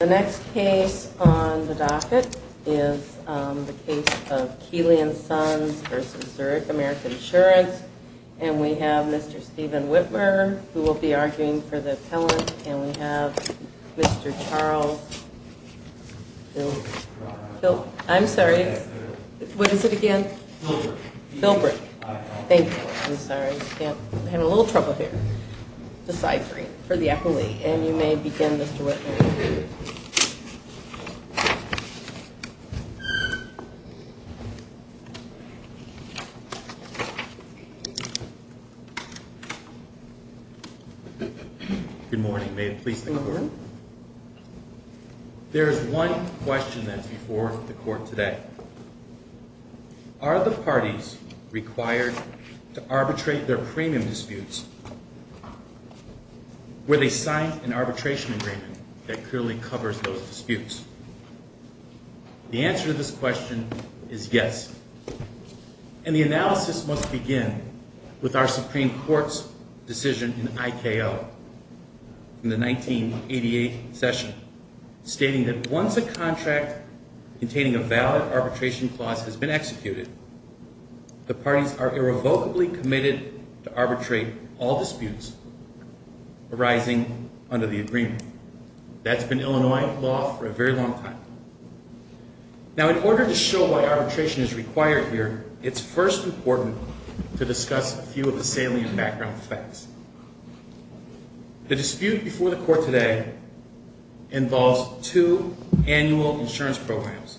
The next case on the docket is the case of Keeley & Sons v. Zurich American Insurance. And we have Mr. Steven Whitmer, who will be arguing for the appellant. And we have Mr. Charles Filbreck. I'm sorry. What is it again? Filbreck. Thank you. I'm sorry. I'm having a little trouble here. Deciphering for the appellee. And you may begin, Mr. Whitmer. Good morning. May it please the Court? There is one question that's before the Court today. Are the parties required to arbitrate their premium disputes where they sign an arbitration agreement that clearly covers those disputes? The answer to this question is yes. And the analysis must begin with our Supreme Court's decision in IKO in the 1988 session, stating that once a contract containing a valid arbitration clause has been executed, the parties are irrevocably committed to arbitrate all disputes arising under the agreement. That's been Illinois law for a very long time. Now, in order to show why arbitration is required here, it's first important to discuss a few of the salient background facts. The dispute before the Court today involves two annual insurance programs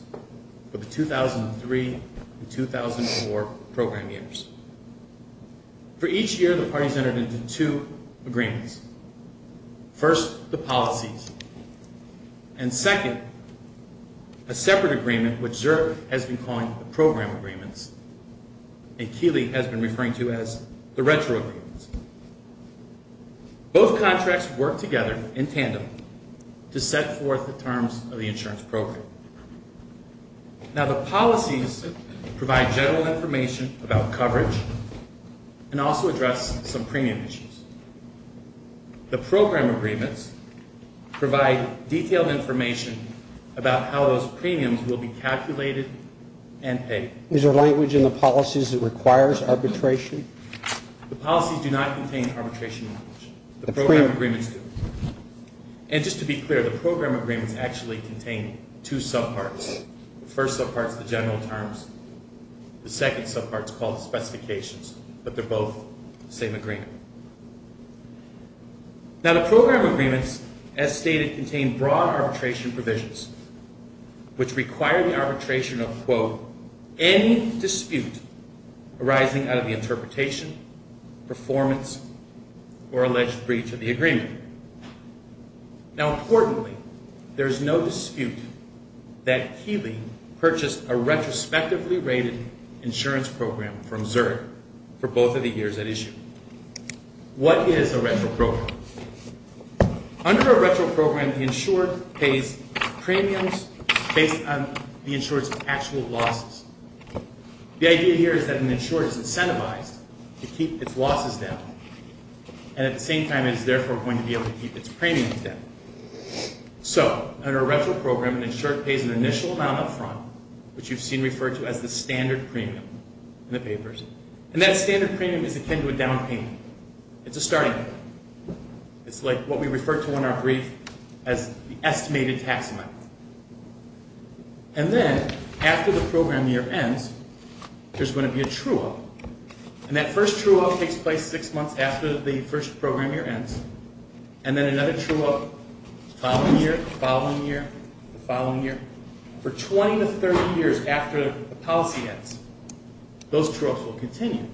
for the 2003 and 2004 program years. For each year, the parties entered into two agreements. First, the policies. And second, a separate agreement, which Zerk has been calling the program agreements, and Keeley has been referring to as the retro agreements. Both contracts work together in tandem to set forth the terms of the insurance program. Now, the policies provide general information about coverage and also address some premium issues. The program agreements provide detailed information about how those premiums will be calculated and paid. Is there language in the policies that requires arbitration? The policies do not contain arbitration language. The program agreements do. The first subpart is the general terms. The second subpart is called the specifications. But they're both the same agreement. Now, the program agreements, as stated, contain broad arbitration provisions, which require the arbitration of, quote, any dispute arising out of the interpretation, performance, or alleged breach of the agreement. Now, importantly, there is no dispute that Keeley purchased a retrospectively rated insurance program from Zerk for both of the years at issue. What is a retro program? Under a retro program, the insured pays premiums based on the insured's actual losses. The idea here is that an insured is incentivized to keep its losses down, and at the same time is therefore going to be able to keep its premiums down. So, under a retro program, an insured pays an initial amount up front, which you've seen referred to as the standard premium in the papers. And that standard premium is akin to a down payment. It's a starting point. It's like what we refer to in our brief as the estimated tax amount. And then, after the program year ends, there's going to be a true-all. And that first true-all takes place six months after the first program year ends. And then another true-all the following year, the following year, the following year. For 20 to 30 years after the policy ends, those true-alls will continue.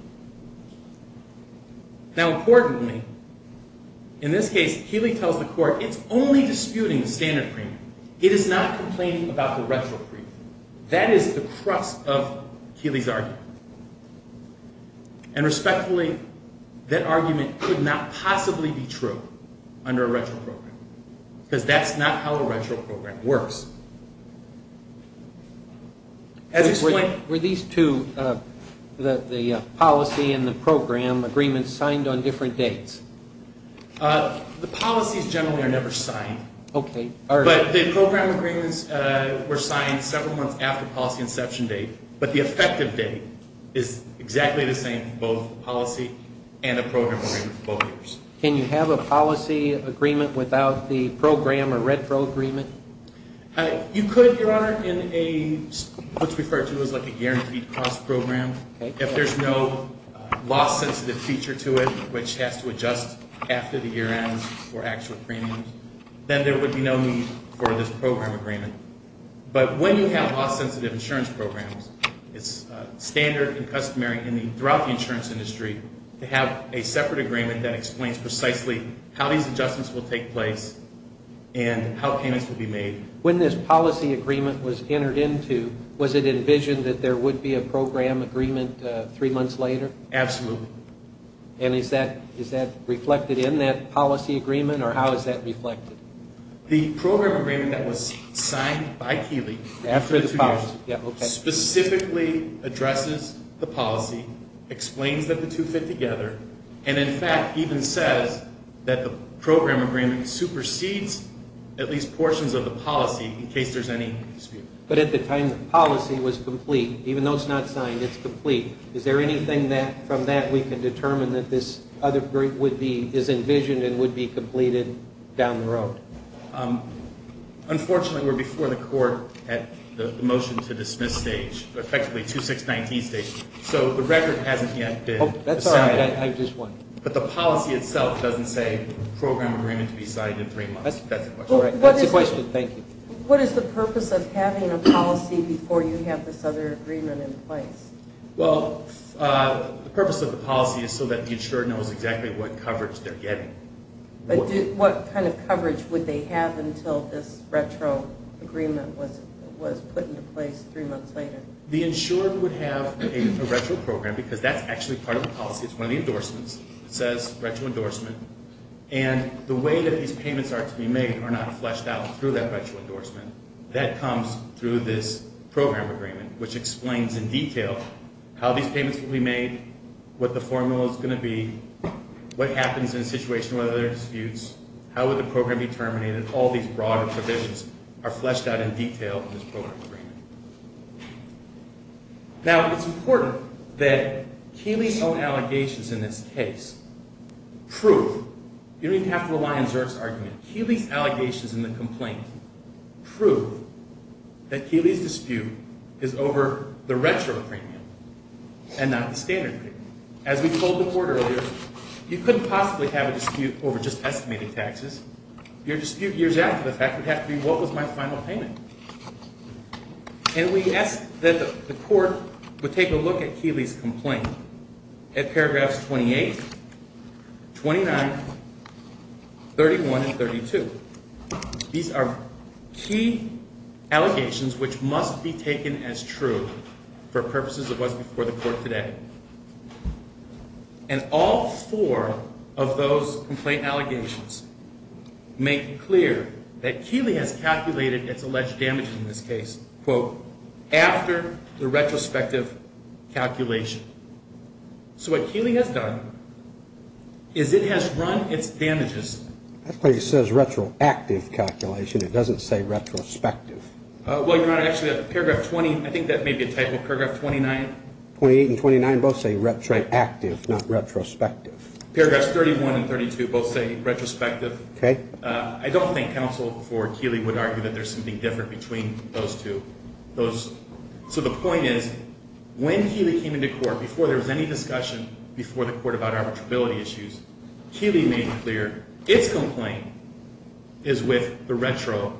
Now, importantly, in this case, Keeley tells the court, it's only disputing the standard premium. It is not complaining about the retro premium. That is the crux of Keeley's argument. And respectfully, that argument could not possibly be true under a retro program, because that's not how a retro program works. Were these two, the policy and the program agreements, signed on different dates? The policies generally are never signed. But the program agreements were signed several months after policy inception date, but the effective date is exactly the same for both policy and a program agreement for both years. Can you have a policy agreement without the program or retro agreement? You could, Your Honor, in what's referred to as a guaranteed cost program. If there's no loss-sensitive feature to it, which has to adjust after the year ends for actual premiums, then there would be no need for this program agreement. But when you have loss-sensitive insurance programs, it's standard and customary throughout the insurance industry to have a separate agreement that explains precisely how these adjustments will take place and how payments will be made. When this policy agreement was entered into, was it envisioned that there would be a program agreement three months later? Absolutely. And is that reflected in that policy agreement, or how is that reflected? The program agreement that was signed by Keeley specifically addresses the policy, explains that the two fit together, and in fact even says that the program agreement supersedes at least portions of the policy in case there's any dispute. But at the time the policy was complete, even though it's not signed, it's complete. Is there anything from that we can determine that this is envisioned and would be completed down the road? Unfortunately, we're before the court at the motion to dismiss stage, effectively 2619 stage. So the record hasn't yet been decided. But the policy itself doesn't say program agreement to be signed in three months. That's the question. That's the question. Thank you. What is the purpose of having a policy before you have this other agreement in place? Well, the purpose of the policy is so that the insurer knows exactly what coverage they're getting. What kind of coverage would they have until this retro agreement was put into place three months later? The insurer would have a retro program, because that's actually part of the policy. It's one of the endorsements. It says retro endorsement. And the way that these payments are to be made are not fleshed out through that retro endorsement. That comes through this program agreement, which explains in detail how these payments will be made, what the formula is going to be, what happens in a situation where there are disputes, how would the program be terminated. All these broader provisions are fleshed out in detail in this program agreement. Now, it's important that Keeley's own allegations in this case prove, you don't even have to rely on Zerk's argument, Keeley's allegations in the complaint prove that Keeley's dispute is over the retro premium and not the standard premium. As we told the court earlier, you couldn't possibly have a dispute over just estimated taxes. Your dispute years after the fact would have to be what was my final payment. And we asked that the court would take a look at Keeley's complaint at paragraphs 28, 29, 31, and 32. These are key allegations which must be taken as true for purposes of what's before the court today. And all four of those complaint allegations make clear that Keeley has calculated its alleged damages in this case, quote, after the retrospective calculation. So what Keeley has done is it has run its damages. That place says retroactive calculation. It doesn't say retrospective. Well, Your Honor, actually paragraph 20, I think that may be a typo, paragraph 29. 28 and 29 both say retroactive, not retrospective. Paragraphs 31 and 32 both say retrospective. I don't think counsel for Keeley would argue that there's something different between those two. So the point is when Keeley came into court, before there was any discussion before the court about arbitrability issues, Keeley made clear its complaint is with the retro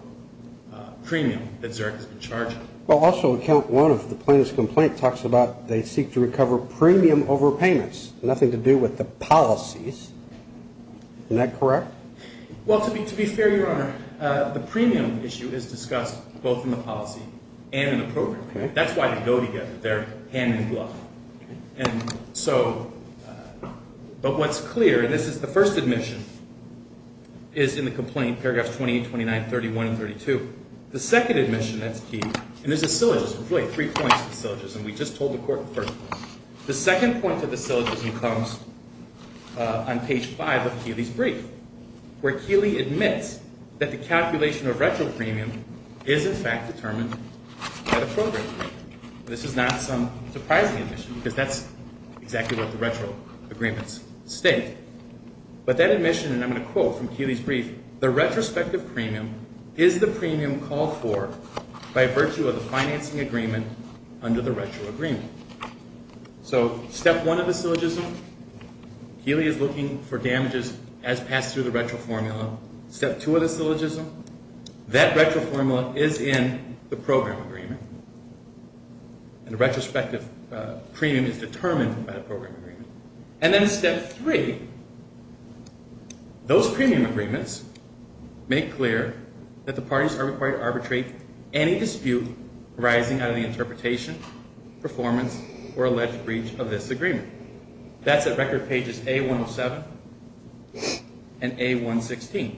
premium that Zerk has been charging. Well, also account one of the plaintiff's complaint talks about they seek to recover premium over payments, nothing to do with the policies. Isn't that correct? Well, to be fair, Your Honor, the premium issue is discussed both in the policy and in the program. That's why they go together. They're hand in glove. And so but what's clear, and this is the first admission, is in the complaint, paragraphs 28, 29, 31, and 32. The second admission that's key, and there's a syllogism. There's really three points of the syllogism we just told the court first. The second point of the syllogism comes on page five of Keeley's brief, where Keeley admits that the calculation of retro premium is in fact determined by the program agreement. This is not some surprising admission because that's exactly what the retro agreements state. But that admission, and I'm going to quote from Keeley's brief, the retrospective premium is the premium called for by virtue of the financing agreement under the retro agreement. So step one of the syllogism, Keeley is looking for damages as passed through the retro formula. Step two of the syllogism, that retro formula is in the program agreement. And the retrospective premium is determined by the program agreement. And then step three, those premium agreements make clear that the parties are required to arbitrate any dispute arising out of the interpretation, performance, or alleged breach of this agreement. That's at record pages A107 and A116.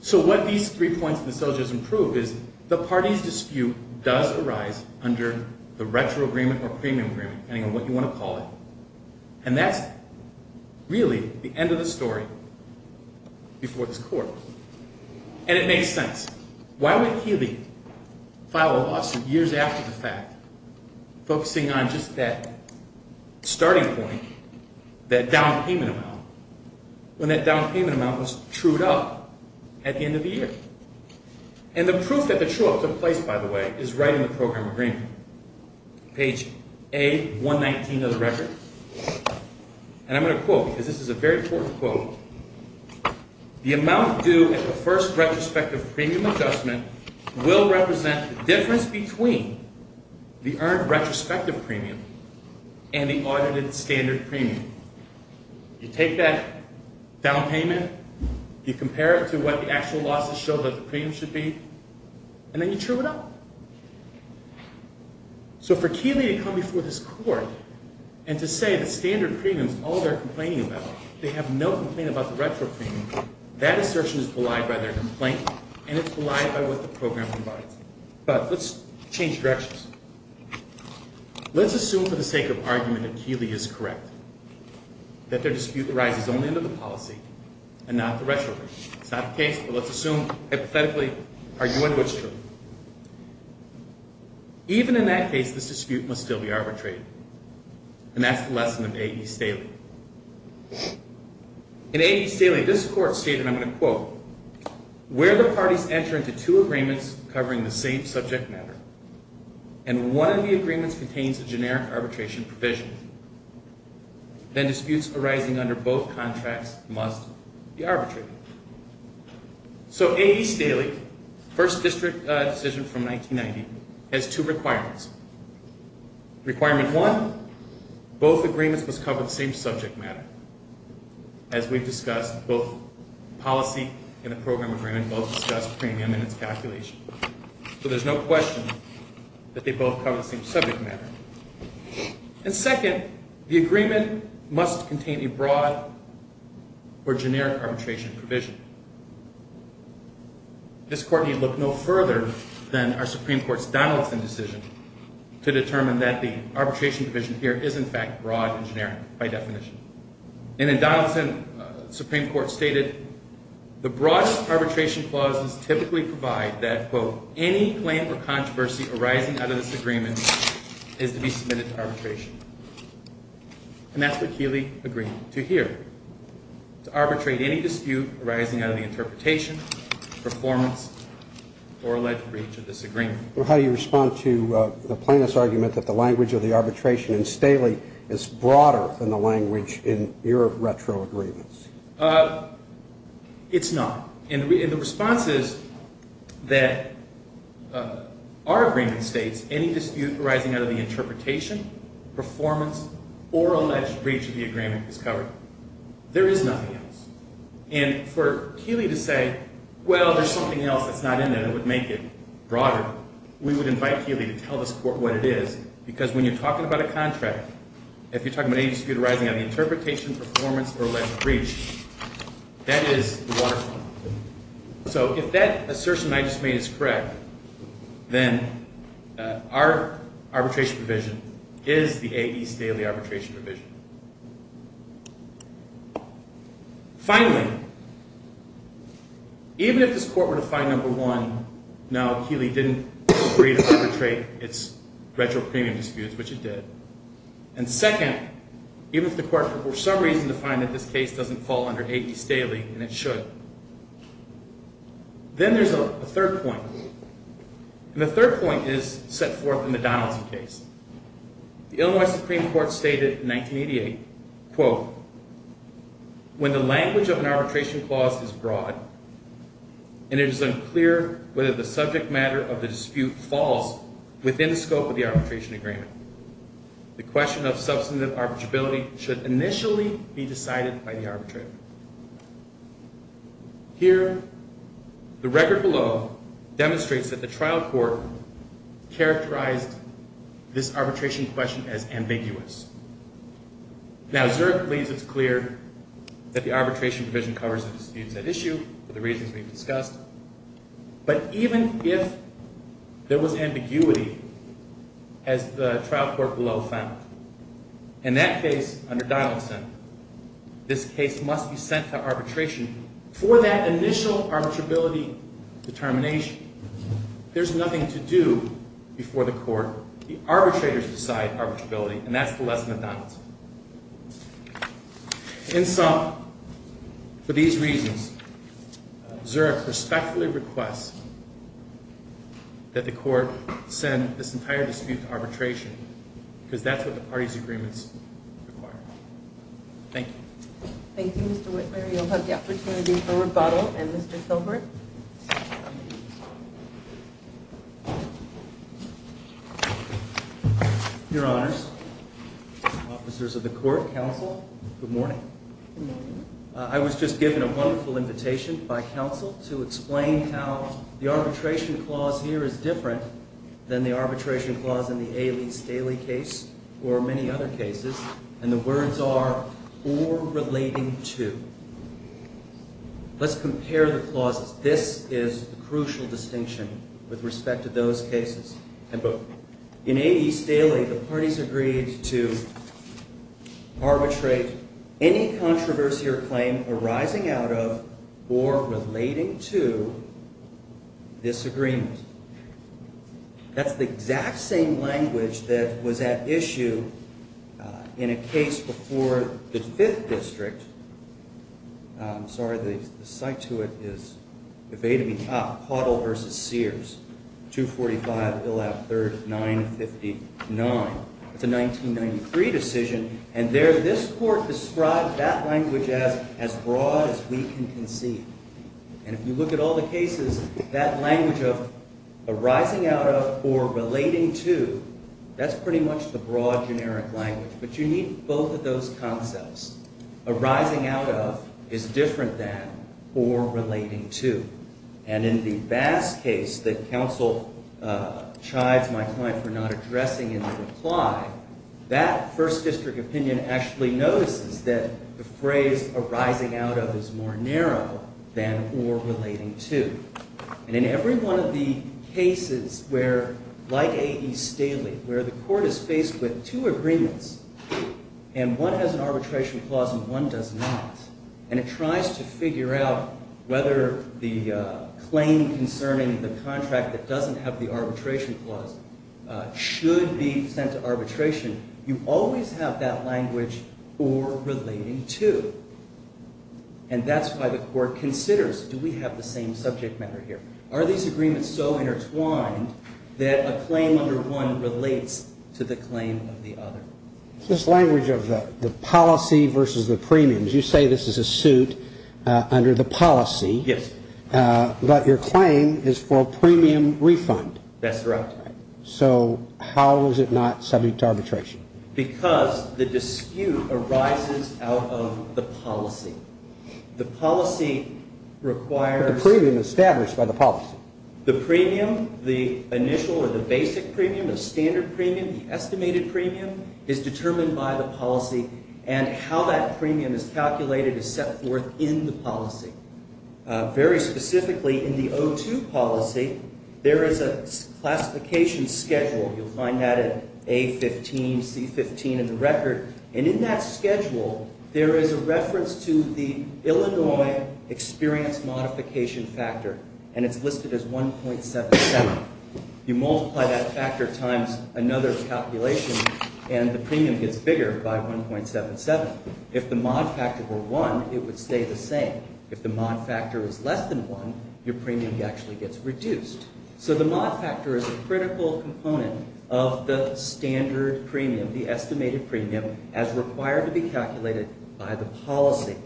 So what these three points of the syllogism prove is the party's dispute does arise under the retro agreement or premium agreement, depending on what you want to call it. And that's really the end of the story before this court. And it makes sense. Why would Keeley file a lawsuit years after the fact focusing on just that starting point, that down payment amount, when that down payment amount was trued up at the end of the year? And the proof that the true up took place, by the way, is right in the program agreement. Page A119 of the record. And I'm going to quote, because this is a very important quote. The amount due at the first retrospective premium adjustment will represent the difference between the earned retrospective premium and the audited standard premium. You take that down payment, you compare it to what the actual losses show that the premium should be, and then you true it up. So for Keeley to come before this court and to say the standard premium is all they're complaining about, they have no complaint about the retro premium, that assertion is belied by their complaint, and it's belied by what the program provides. But let's change directions. Let's assume for the sake of argument that Keeley is correct, that their dispute arises only under the policy and not the retro agreement. It's not the case, but let's assume hypothetically, argue it was true. Even in that case, this dispute must still be arbitrated. And that's the lesson of A.E. Staley. In A.E. Staley, this court stated, and I'm going to quote, where the parties enter into two agreements covering the same subject matter, and one of the agreements contains a generic arbitration provision, then disputes arising under both contracts must be arbitrated. So A.E. Staley, first district decision from 1990, has two requirements. Requirement one, both agreements must cover the same subject matter. As we've discussed, both policy and the program agreement both discuss premium and its calculation. So there's no question that they both cover the same subject matter. And second, the agreement must contain a broad or generic arbitration provision. This court need look no further than our Supreme Court's Donaldson decision to determine that the arbitration provision here is in fact broad and generic by definition. And in Donaldson, the Supreme Court stated, any claim or controversy arising out of this agreement is to be submitted to arbitration. And that's what Keeley agreed to here, to arbitrate any dispute arising out of the interpretation, performance, or alleged breach of this agreement. Well, how do you respond to the plaintiff's argument that the language of the arbitration in Staley is broader than the language in your retro agreements? It's not. And the response is that our agreement states, any dispute arising out of the interpretation, performance, or alleged breach of the agreement is covered. There is nothing else. And for Keeley to say, well, there's something else that's not in there that would make it broader, we would invite Keeley to tell this court what it is, because when you're talking about a contract, if you're talking about any dispute arising out of the interpretation, performance, or alleged breach, that is the waterfront. So if that assertion I just made is correct, then our arbitration provision is the A.E. Staley Arbitration Provision. Finally, even if this court were to find, number one, no, Keeley didn't agree to arbitrate its retro premium disputes, which it did, and second, even if the court were for some reason to find that this case doesn't fall under A.E. Staley, and it should, then there's a third point. And the third point is set forth in the Donaldson case. The Illinois Supreme Court stated in 1988, quote, when the language of an arbitration clause is broad, and it is unclear whether the subject matter of the dispute falls within the scope of the arbitration agreement, the question of substantive arbitrability should initially be decided by the arbitrator. Here, the record below demonstrates that the trial court characterized this arbitration question as ambiguous. Now, Zurich leaves it clear that the arbitration provision covers the disputes at issue for the reasons we've discussed, but even if there was ambiguity, as the trial court below found, in that case, under Donaldson, this case must be sent to arbitration for that initial arbitrability determination. There's nothing to do before the court. The arbitrators decide arbitrability, and that's the lesson of Donaldson. In sum, for these reasons, Zurich respectfully requests that the court send this entire dispute to arbitration, because that's what the parties' agreements require. Thank you. Thank you, Mr. Whitmer. You'll have the opportunity for rebuttal, and Mr. Silbert. Thank you. Your Honors, officers of the court, counsel, good morning. Good morning. I was just given a wonderful invitation by counsel to explain how the arbitration clause here is different than the arbitration clause in the A. Lee Staley case, or many other cases, and the words are, or relating to. Let's compare the clauses. This is the crucial distinction with respect to those cases, and both. In A. Lee Staley, the parties agreed to arbitrate any controversy or claim arising out of, or relating to, this agreement. That's the exact same language that was at issue in a case before the 5th District. Sorry, the site to it is evading me. Ah, Pottle v. Sears, 245, Bill Ave. 3rd, 959. It's a 1993 decision, and there, this court described that language as, as broad as we can conceive. And if you look at all the cases, that language of arising out of, or relating to, that's pretty much the broad, generic language. But you need both of those concepts. Arising out of is different than, or relating to. And in the Bass case that counsel chides my client for not addressing in the reply, that 1st District opinion actually notices that the phrase arising out of is more narrow than, or relating to. And in every one of the cases where, like A. Lee Staley, where the court is faced with two agreements, and one has an arbitration clause and one does not, and it tries to figure out whether the claim concerning the contract that doesn't have the arbitration clause should be sent to arbitration, you always have that language, or relating to. And that's why the court considers, do we have the same subject matter here? Are these agreements so intertwined that a claim under one relates to the claim of the other? It's this language of the policy versus the premiums. You say this is a suit under the policy. Yes. But your claim is for a premium refund. That's correct. So how is it not subject to arbitration? Because the dispute arises out of the policy. The policy requires... The premium established by the policy. The premium, the initial or the basic premium, the standard premium, the estimated premium, is determined by the policy. And how that premium is calculated is set forth in the policy. Very specifically, in the O2 policy, there is a classification schedule. You'll find that at A15, C15 in the record. And in that schedule, there is a reference to the Illinois experience modification factor, and it's listed as 1.77. You multiply that factor times another calculation, and the premium gets bigger by 1.77. If the mod factor were 1, it would stay the same. If the mod factor is less than 1, your premium actually gets reduced. So the mod factor is a critical component of the standard premium, the estimated premium, as required to be calculated by the policy.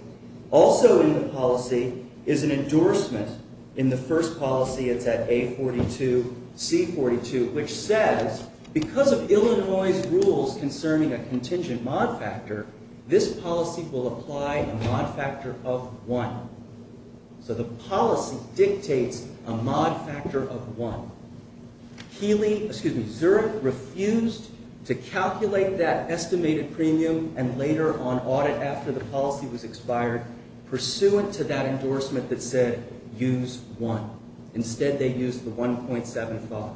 Also in the policy is an endorsement. In the first policy, it's at A42, C42, which says because of Illinois' rules concerning a contingent mod factor, this policy will apply a mod factor of 1. So the policy dictates a mod factor of 1. Zurich refused to calculate that estimated premium, and later on audit after the policy was expired, pursuant to that endorsement that said use 1. Instead, they used the 1.75.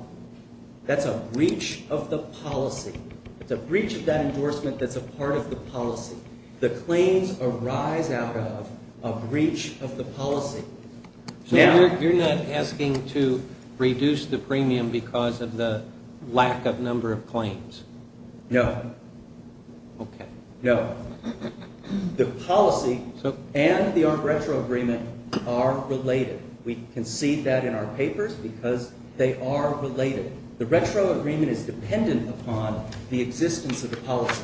That's a breach of the policy. It's a breach of that endorsement that's a part of the policy. The claims arise out of a breach of the policy. So you're not asking to reduce the premium because of the lack of number of claims? No. Okay. No. The policy and the ARP retro agreement are related. We concede that in our papers because they are related. The retro agreement is dependent upon the existence of the policy.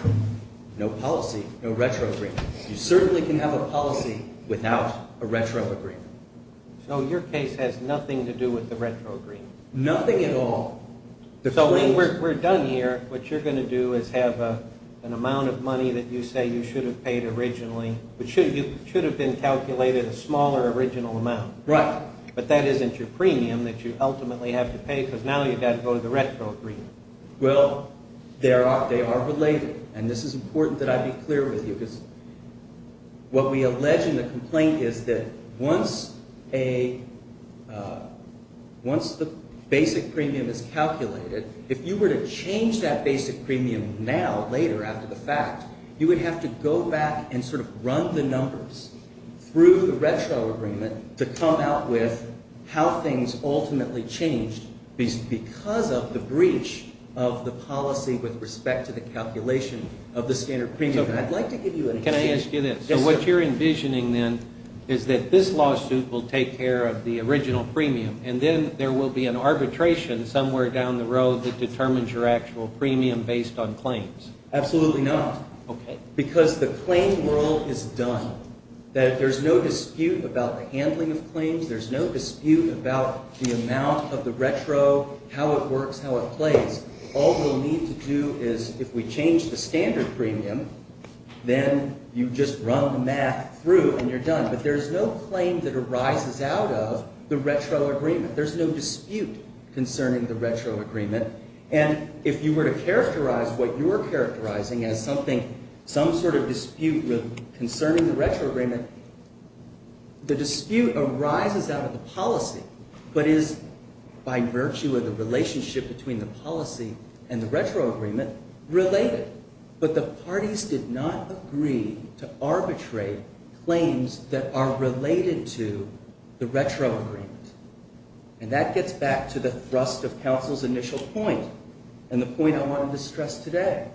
No policy, no retro agreement. You certainly can have a policy without a retro agreement. So your case has nothing to do with the retro agreement? Nothing at all. So we're done here. What you're going to do is have an amount of money that you say you should have paid originally, which should have been calculated a smaller original amount. Right. But that isn't your premium that you ultimately have to pay because now you've got to go to the retro agreement. Well, they are related. And this is important that I be clear with you because what we allege in the complaint is that once the basic premium is calculated, if you were to change that basic premium now later after the fact, you would have to go back and sort of run the numbers through the retro agreement to come out with how things ultimately changed because of the breach of the policy with respect to the calculation of the standard premium. And I'd like to give you an idea. Can I ask you this? Yes, sir. So what you're envisioning then is that this lawsuit will take care of the original premium, and then there will be an arbitration somewhere down the road that determines your actual premium based on claims. Absolutely not. Okay. Because the claim world is done. There's no dispute about the handling of claims. There's no dispute about the amount of the retro, how it works, how it plays. All we'll need to do is if we change the standard premium, then you just run the math through and you're done. But there's no claim that arises out of the retro agreement. There's no dispute concerning the retro agreement. And if you were to characterize what you're characterizing as something, some sort of dispute concerning the retro agreement, the dispute arises out of the policy but is by virtue of the relationship between the policy and the retro agreement related. But the parties did not agree to arbitrate claims that are related to the retro agreement. And that gets back to the thrust of counsel's initial point and the point I wanted to stress today.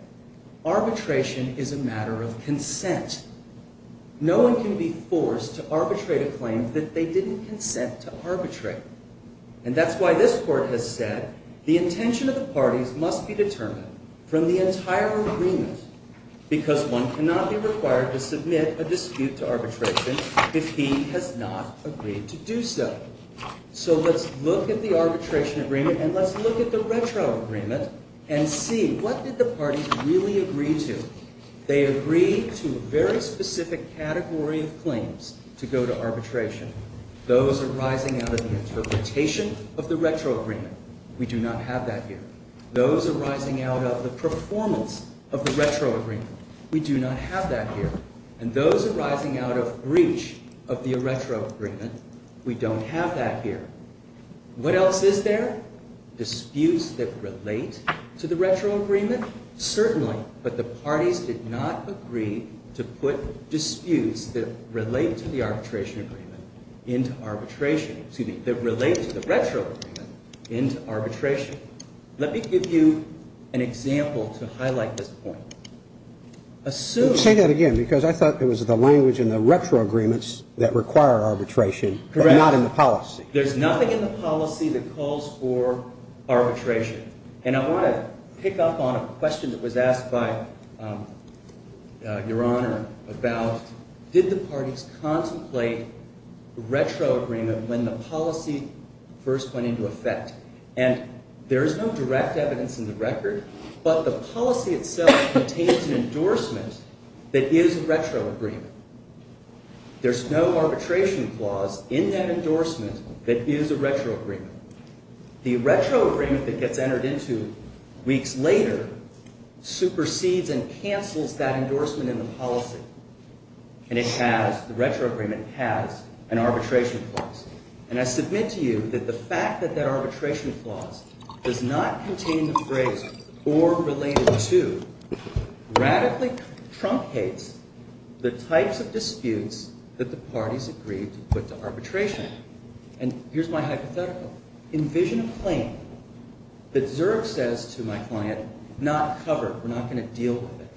Arbitration is a matter of consent. No one can be forced to arbitrate a claim that they didn't consent to arbitrate. And that's why this court has said the intention of the parties must be determined from the entire agreement because one cannot be required to submit a dispute to arbitration if he has not agreed to do so. So let's look at the arbitration agreement and let's look at the retro agreement and see what did the parties really agree to. They agreed to a very specific category of claims to go to arbitration. Those arising out of the interpretation of the retro agreement. We do not have that here. Those arising out of the performance of the retro agreement. We do not have that here. And those arising out of breach of the retro agreement. We don't have that here. What else is there? Disputes that relate to the retro agreement. Certainly, but the parties did not agree to put disputes that relate to the arbitration agreement into arbitration. Excuse me, that relate to the retro agreement into arbitration. Let me give you an example to highlight this point. Say that again because I thought it was the language in the retro agreements that require arbitration but not in the policy. There's nothing in the policy that calls for arbitration. And I want to pick up on a question that was asked by Your Honor about did the parties contemplate retro agreement when the policy first went into effect. And there is no direct evidence in the record but the policy itself contains an endorsement that is a retro agreement. There's no arbitration clause in that endorsement that is a retro agreement. The retro agreement that gets entered into weeks later supersedes and cancels that endorsement in the policy. And it has, the retro agreement has an arbitration clause. And I submit to you that the fact that that arbitration clause does not contain the phrase or related to radically truncates the types of disputes that the parties agreed to put to arbitration. And here's my hypothetical. Envision a claim that Zurb says to my client, not covered, we're not going to deal with it.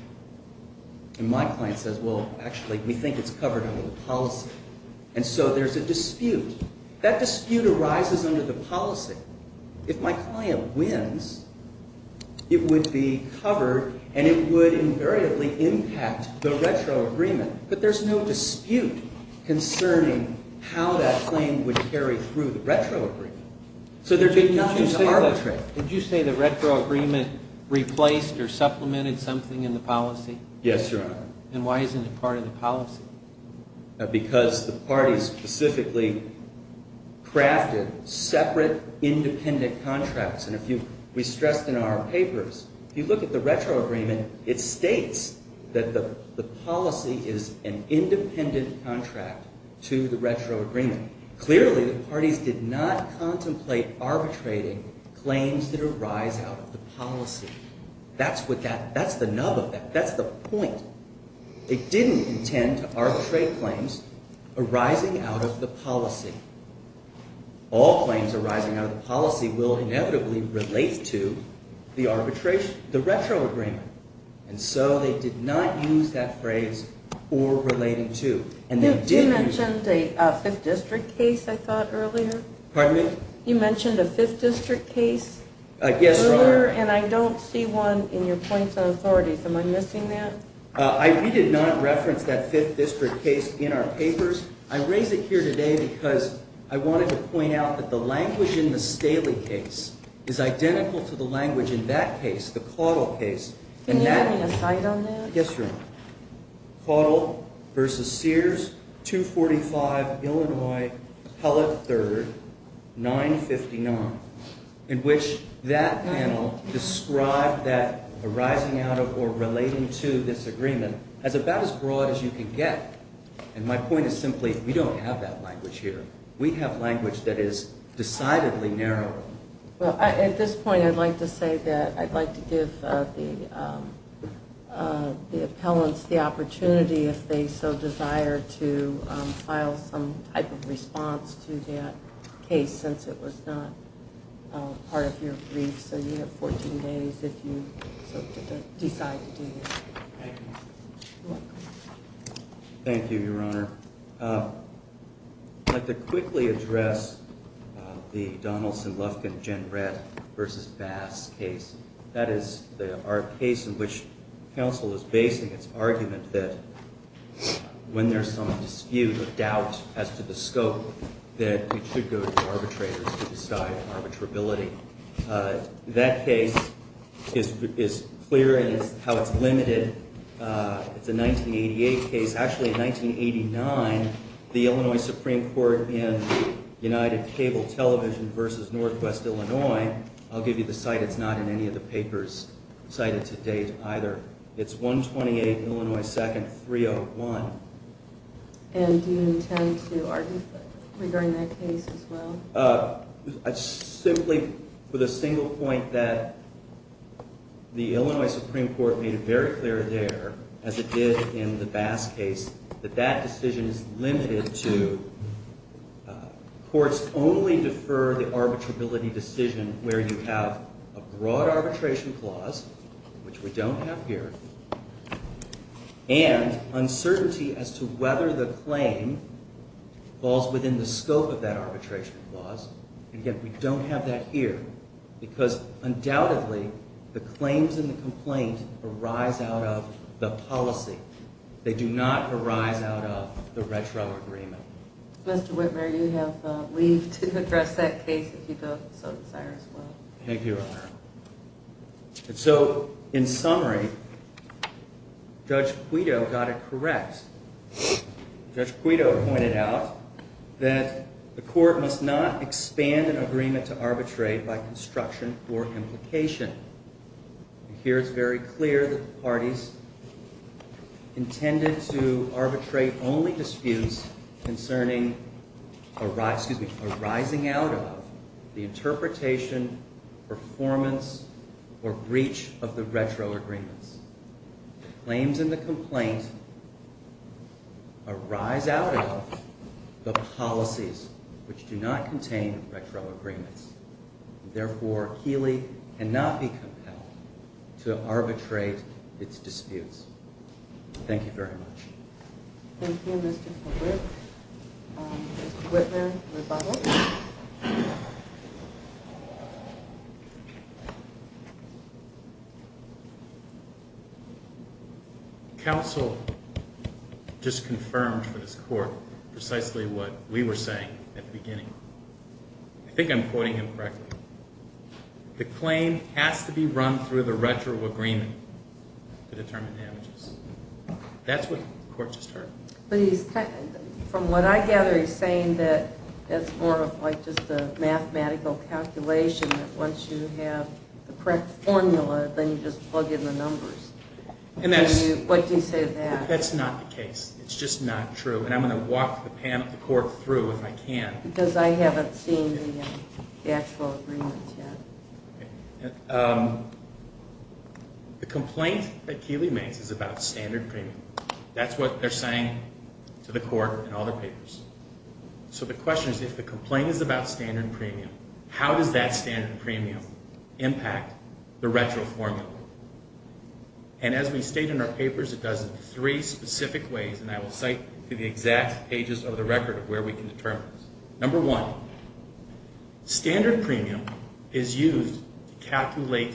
And my client says, well, actually, we think it's covered under the policy. And so there's a dispute. That dispute arises under the policy. If my client wins, it would be covered and it would invariably impact the retro agreement. But there's no dispute concerning how that claim would carry through the retro agreement. So there's nothing to arbitrate. Did you say the retro agreement replaced or supplemented something in the policy? Yes, Your Honor. And why isn't it part of the policy? Because the parties specifically crafted separate independent contracts. And we stressed in our papers, if you look at the retro agreement, it states that the policy is an independent contract to the retro agreement. Clearly, the parties did not contemplate arbitrating claims that arise out of the policy. That's the nub of that. That's the point. It didn't intend to arbitrate claims arising out of the policy. All claims arising out of the policy will inevitably relate to the retro agreement. And so they did not use that phrase, or relating to. You mentioned a fifth district case, I thought, earlier. Pardon me? You mentioned a fifth district case. Yes, Your Honor. And I don't see one in your points of authority. Am I missing that? We did not reference that fifth district case in our papers. I raise it here today because I wanted to point out that the language in the Staley case is identical to the language in that case, the Caudill case. Can you give me a cite on that? Yes, Your Honor. Caudill v. Sears, 245 Illinois, Appellate 3rd, 959, in which that panel described that arising out of or relating to this agreement as about as broad as you can get. And my point is simply, we don't have that language here. We have language that is decidedly narrower. Well, at this point, I'd like to say that I'd like to give the appellants the opportunity, if they so desire, to file some type of response to that case, since it was not part of your brief. So you have 14 days if you decide to do that. Thank you. You're welcome. Thank you, Your Honor. I'd like to quickly address the Donaldson-Lufkin-Jenrett v. Bass case. That is our case in which counsel is basing its argument that when there's some dispute or doubt as to the scope, that it should go to arbitrators to decide arbitrability. That case is clear in how it's limited. It's a 1988 case. Actually, in 1989, the Illinois Supreme Court in the United Cable Television v. Northwest Illinois, I'll give you the site. It's not in any of the papers cited to date either. It's 128 Illinois 2nd, 301. And do you intend to argue regarding that case as well? Simply for the single point that the Illinois Supreme Court made it very clear there, as it did in the Bass case, that that decision is limited to courts only defer the arbitrability decision where you have a broad arbitration clause, which we don't have here, and uncertainty as to whether the claim falls within the scope of that arbitration clause. Again, we don't have that here because undoubtedly the claims in the complaint arise out of the policy. They do not arise out of the retro agreement. Mr. Whitmer, you have leave to address that case if you don't so desire as well. Thank you, Your Honor. And so, in summary, Judge Quito got it correct. Judge Quito pointed out that the court must not expand an agreement to arbitrate by construction or implication. Here it's very clear that the parties intended to arbitrate only disputes concerning arising out of the interpretation, performance, or breach of the retro agreements. Claims in the complaint arise out of the policies, which do not contain retro agreements. Therefore, Keeley cannot be compelled to arbitrate its disputes. Thank you very much. Thank you, Mr. Fulbright. Mr. Whitmer, your rebuttal. Counsel just confirmed for this court precisely what we were saying at the beginning. I think I'm quoting him correctly. The claim has to be run through the retro agreement to determine damages. That's what the court just heard. From what I gather, he's saying that it's more of like just a mathematical calculation that once you have the correct formula, then you just plug in the numbers. What do you say to that? That's not the case. It's just not true, and I'm going to walk the panel, the court, through if I can. Because I haven't seen the actual agreements yet. The complaint that Keeley makes is about standard premium. That's what they're saying to the court in all their papers. So the question is, if the complaint is about standard premium, how does that standard premium impact the retro formula? And as we state in our papers, it does in three specific ways, and I will cite the exact pages of the record of where we can determine this. Number one, standard premium is used to calculate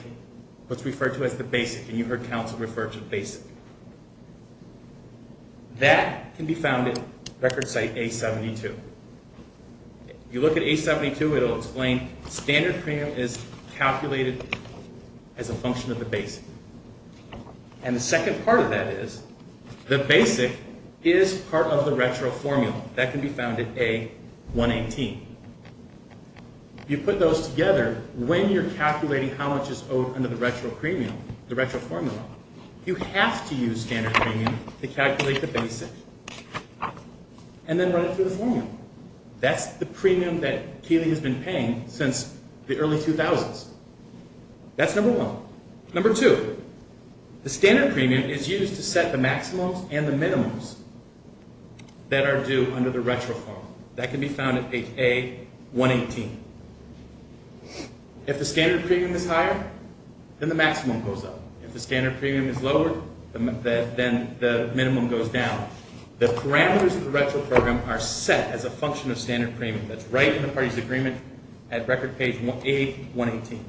what's referred to as the basic, and you heard counsel refer to the basic. That can be found at record site A72. You look at A72, it will explain standard premium is calculated as a function of the basic. And the second part of that is, the basic is part of the retro formula. That can be found at A118. You put those together when you're calculating how much is owed under the retro formula. You have to use standard premium to calculate the basic, and then run it through the formula. That's the premium that Keeley has been paying since the early 2000s. That's number one. Number two, the standard premium is used to set the maximums and the minimums that are due under the retro formula. That can be found at page A118. If the standard premium is higher, then the maximum goes up. If the standard premium is lower, then the minimum goes down. The parameters of the retro program are set as a function of standard premium. That's right in the party's agreement at record page A118.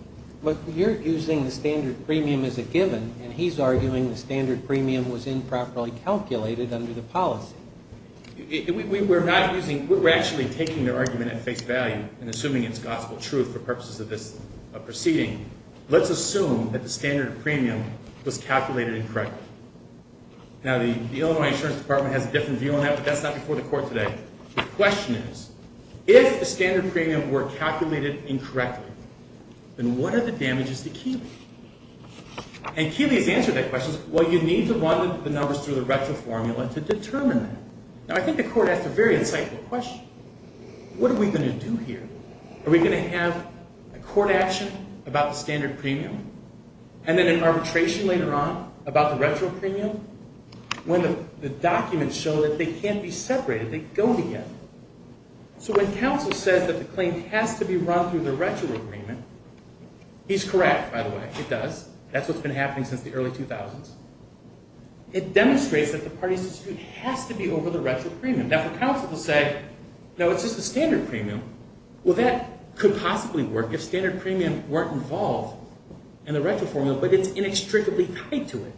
But you're using the standard premium as a given, and he's arguing the standard premium was improperly calculated under the policy. We're actually taking their argument at face value and assuming it's gospel truth for purposes of this proceeding. Let's assume that the standard premium was calculated incorrectly. Now, the Illinois Insurance Department has a different view on that, but that's not before the court today. The question is, if the standard premium were calculated incorrectly, then what are the damages to Keeley? And Keeley's answer to that question is, well, you need to run the numbers through the retro formula to determine that. Now, I think the court asked a very insightful question. What are we going to do here? Are we going to have a court action about the standard premium and then an arbitration later on about the retro premium? When the documents show that they can't be separated, they go together. So when counsel says that the claim has to be run through the retro agreement, he's correct, by the way. It does. That's what's been happening since the early 2000s. It demonstrates that the party's dispute has to be over the retro premium. Now, for counsel to say, no, it's just the standard premium, well, that could possibly work if standard premium weren't involved in the retro formula, but it's inextricably tied to it.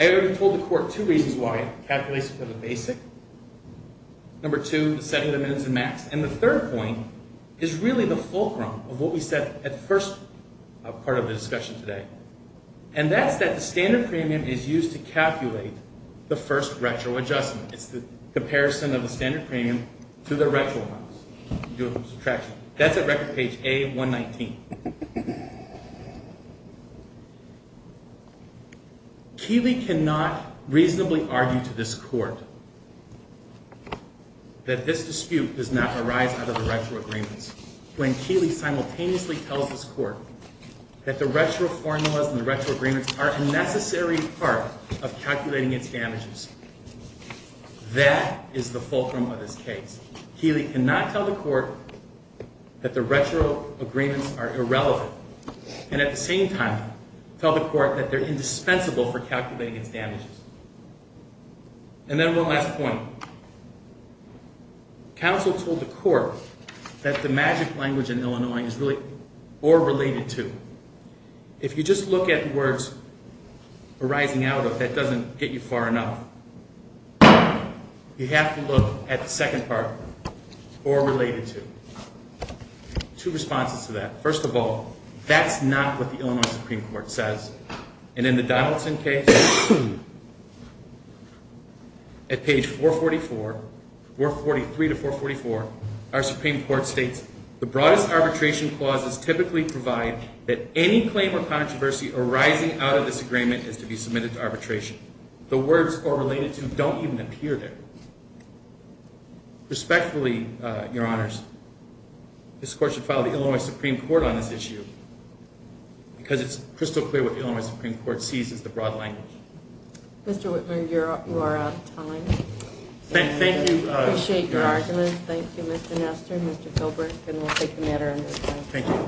I already told the court two reasons why it calculates for the basic. Number two, setting the minutes and max. And the third point is really the fulcrum of what we said at the first part of the discussion today. And that's that the standard premium is used to calculate the first retro adjustment. It's the comparison of the standard premium to the retro amounts. That's at record page A119. Keeley cannot reasonably argue to this court that this dispute does not arise out of the retro agreements. When Keeley simultaneously tells this court that the retro formulas and the retro agreements are a necessary part of calculating its damages, that is the fulcrum of this case. Keeley cannot tell the court that the retro agreements are irrelevant. And at the same time, tell the court that they're indispensable for calculating its damages. And then one last point. Counsel told the court that the magic language in Illinois is really or related to. If you just look at the words arising out of that doesn't get you far enough. You have to look at the second part, or related to. Two responses to that. First of all, that's not what the Illinois Supreme Court says. And in the Donaldson case, at page 443 to 444, our Supreme Court states, the broadest arbitration clauses typically provide that any claim or controversy arising out of this agreement is to be submitted to arbitration. The words, or related to, don't even appear there. Respectfully, your honors, this court should file the Illinois Supreme Court on this issue. Because it's crystal clear what the Illinois Supreme Court sees as the broad language. Mr. Whitmer, you are out of time. Thank you. I appreciate your argument. Thank you, Mr. Nester, Mr. Philbrick. And we'll take the matter under discussion. Thank you.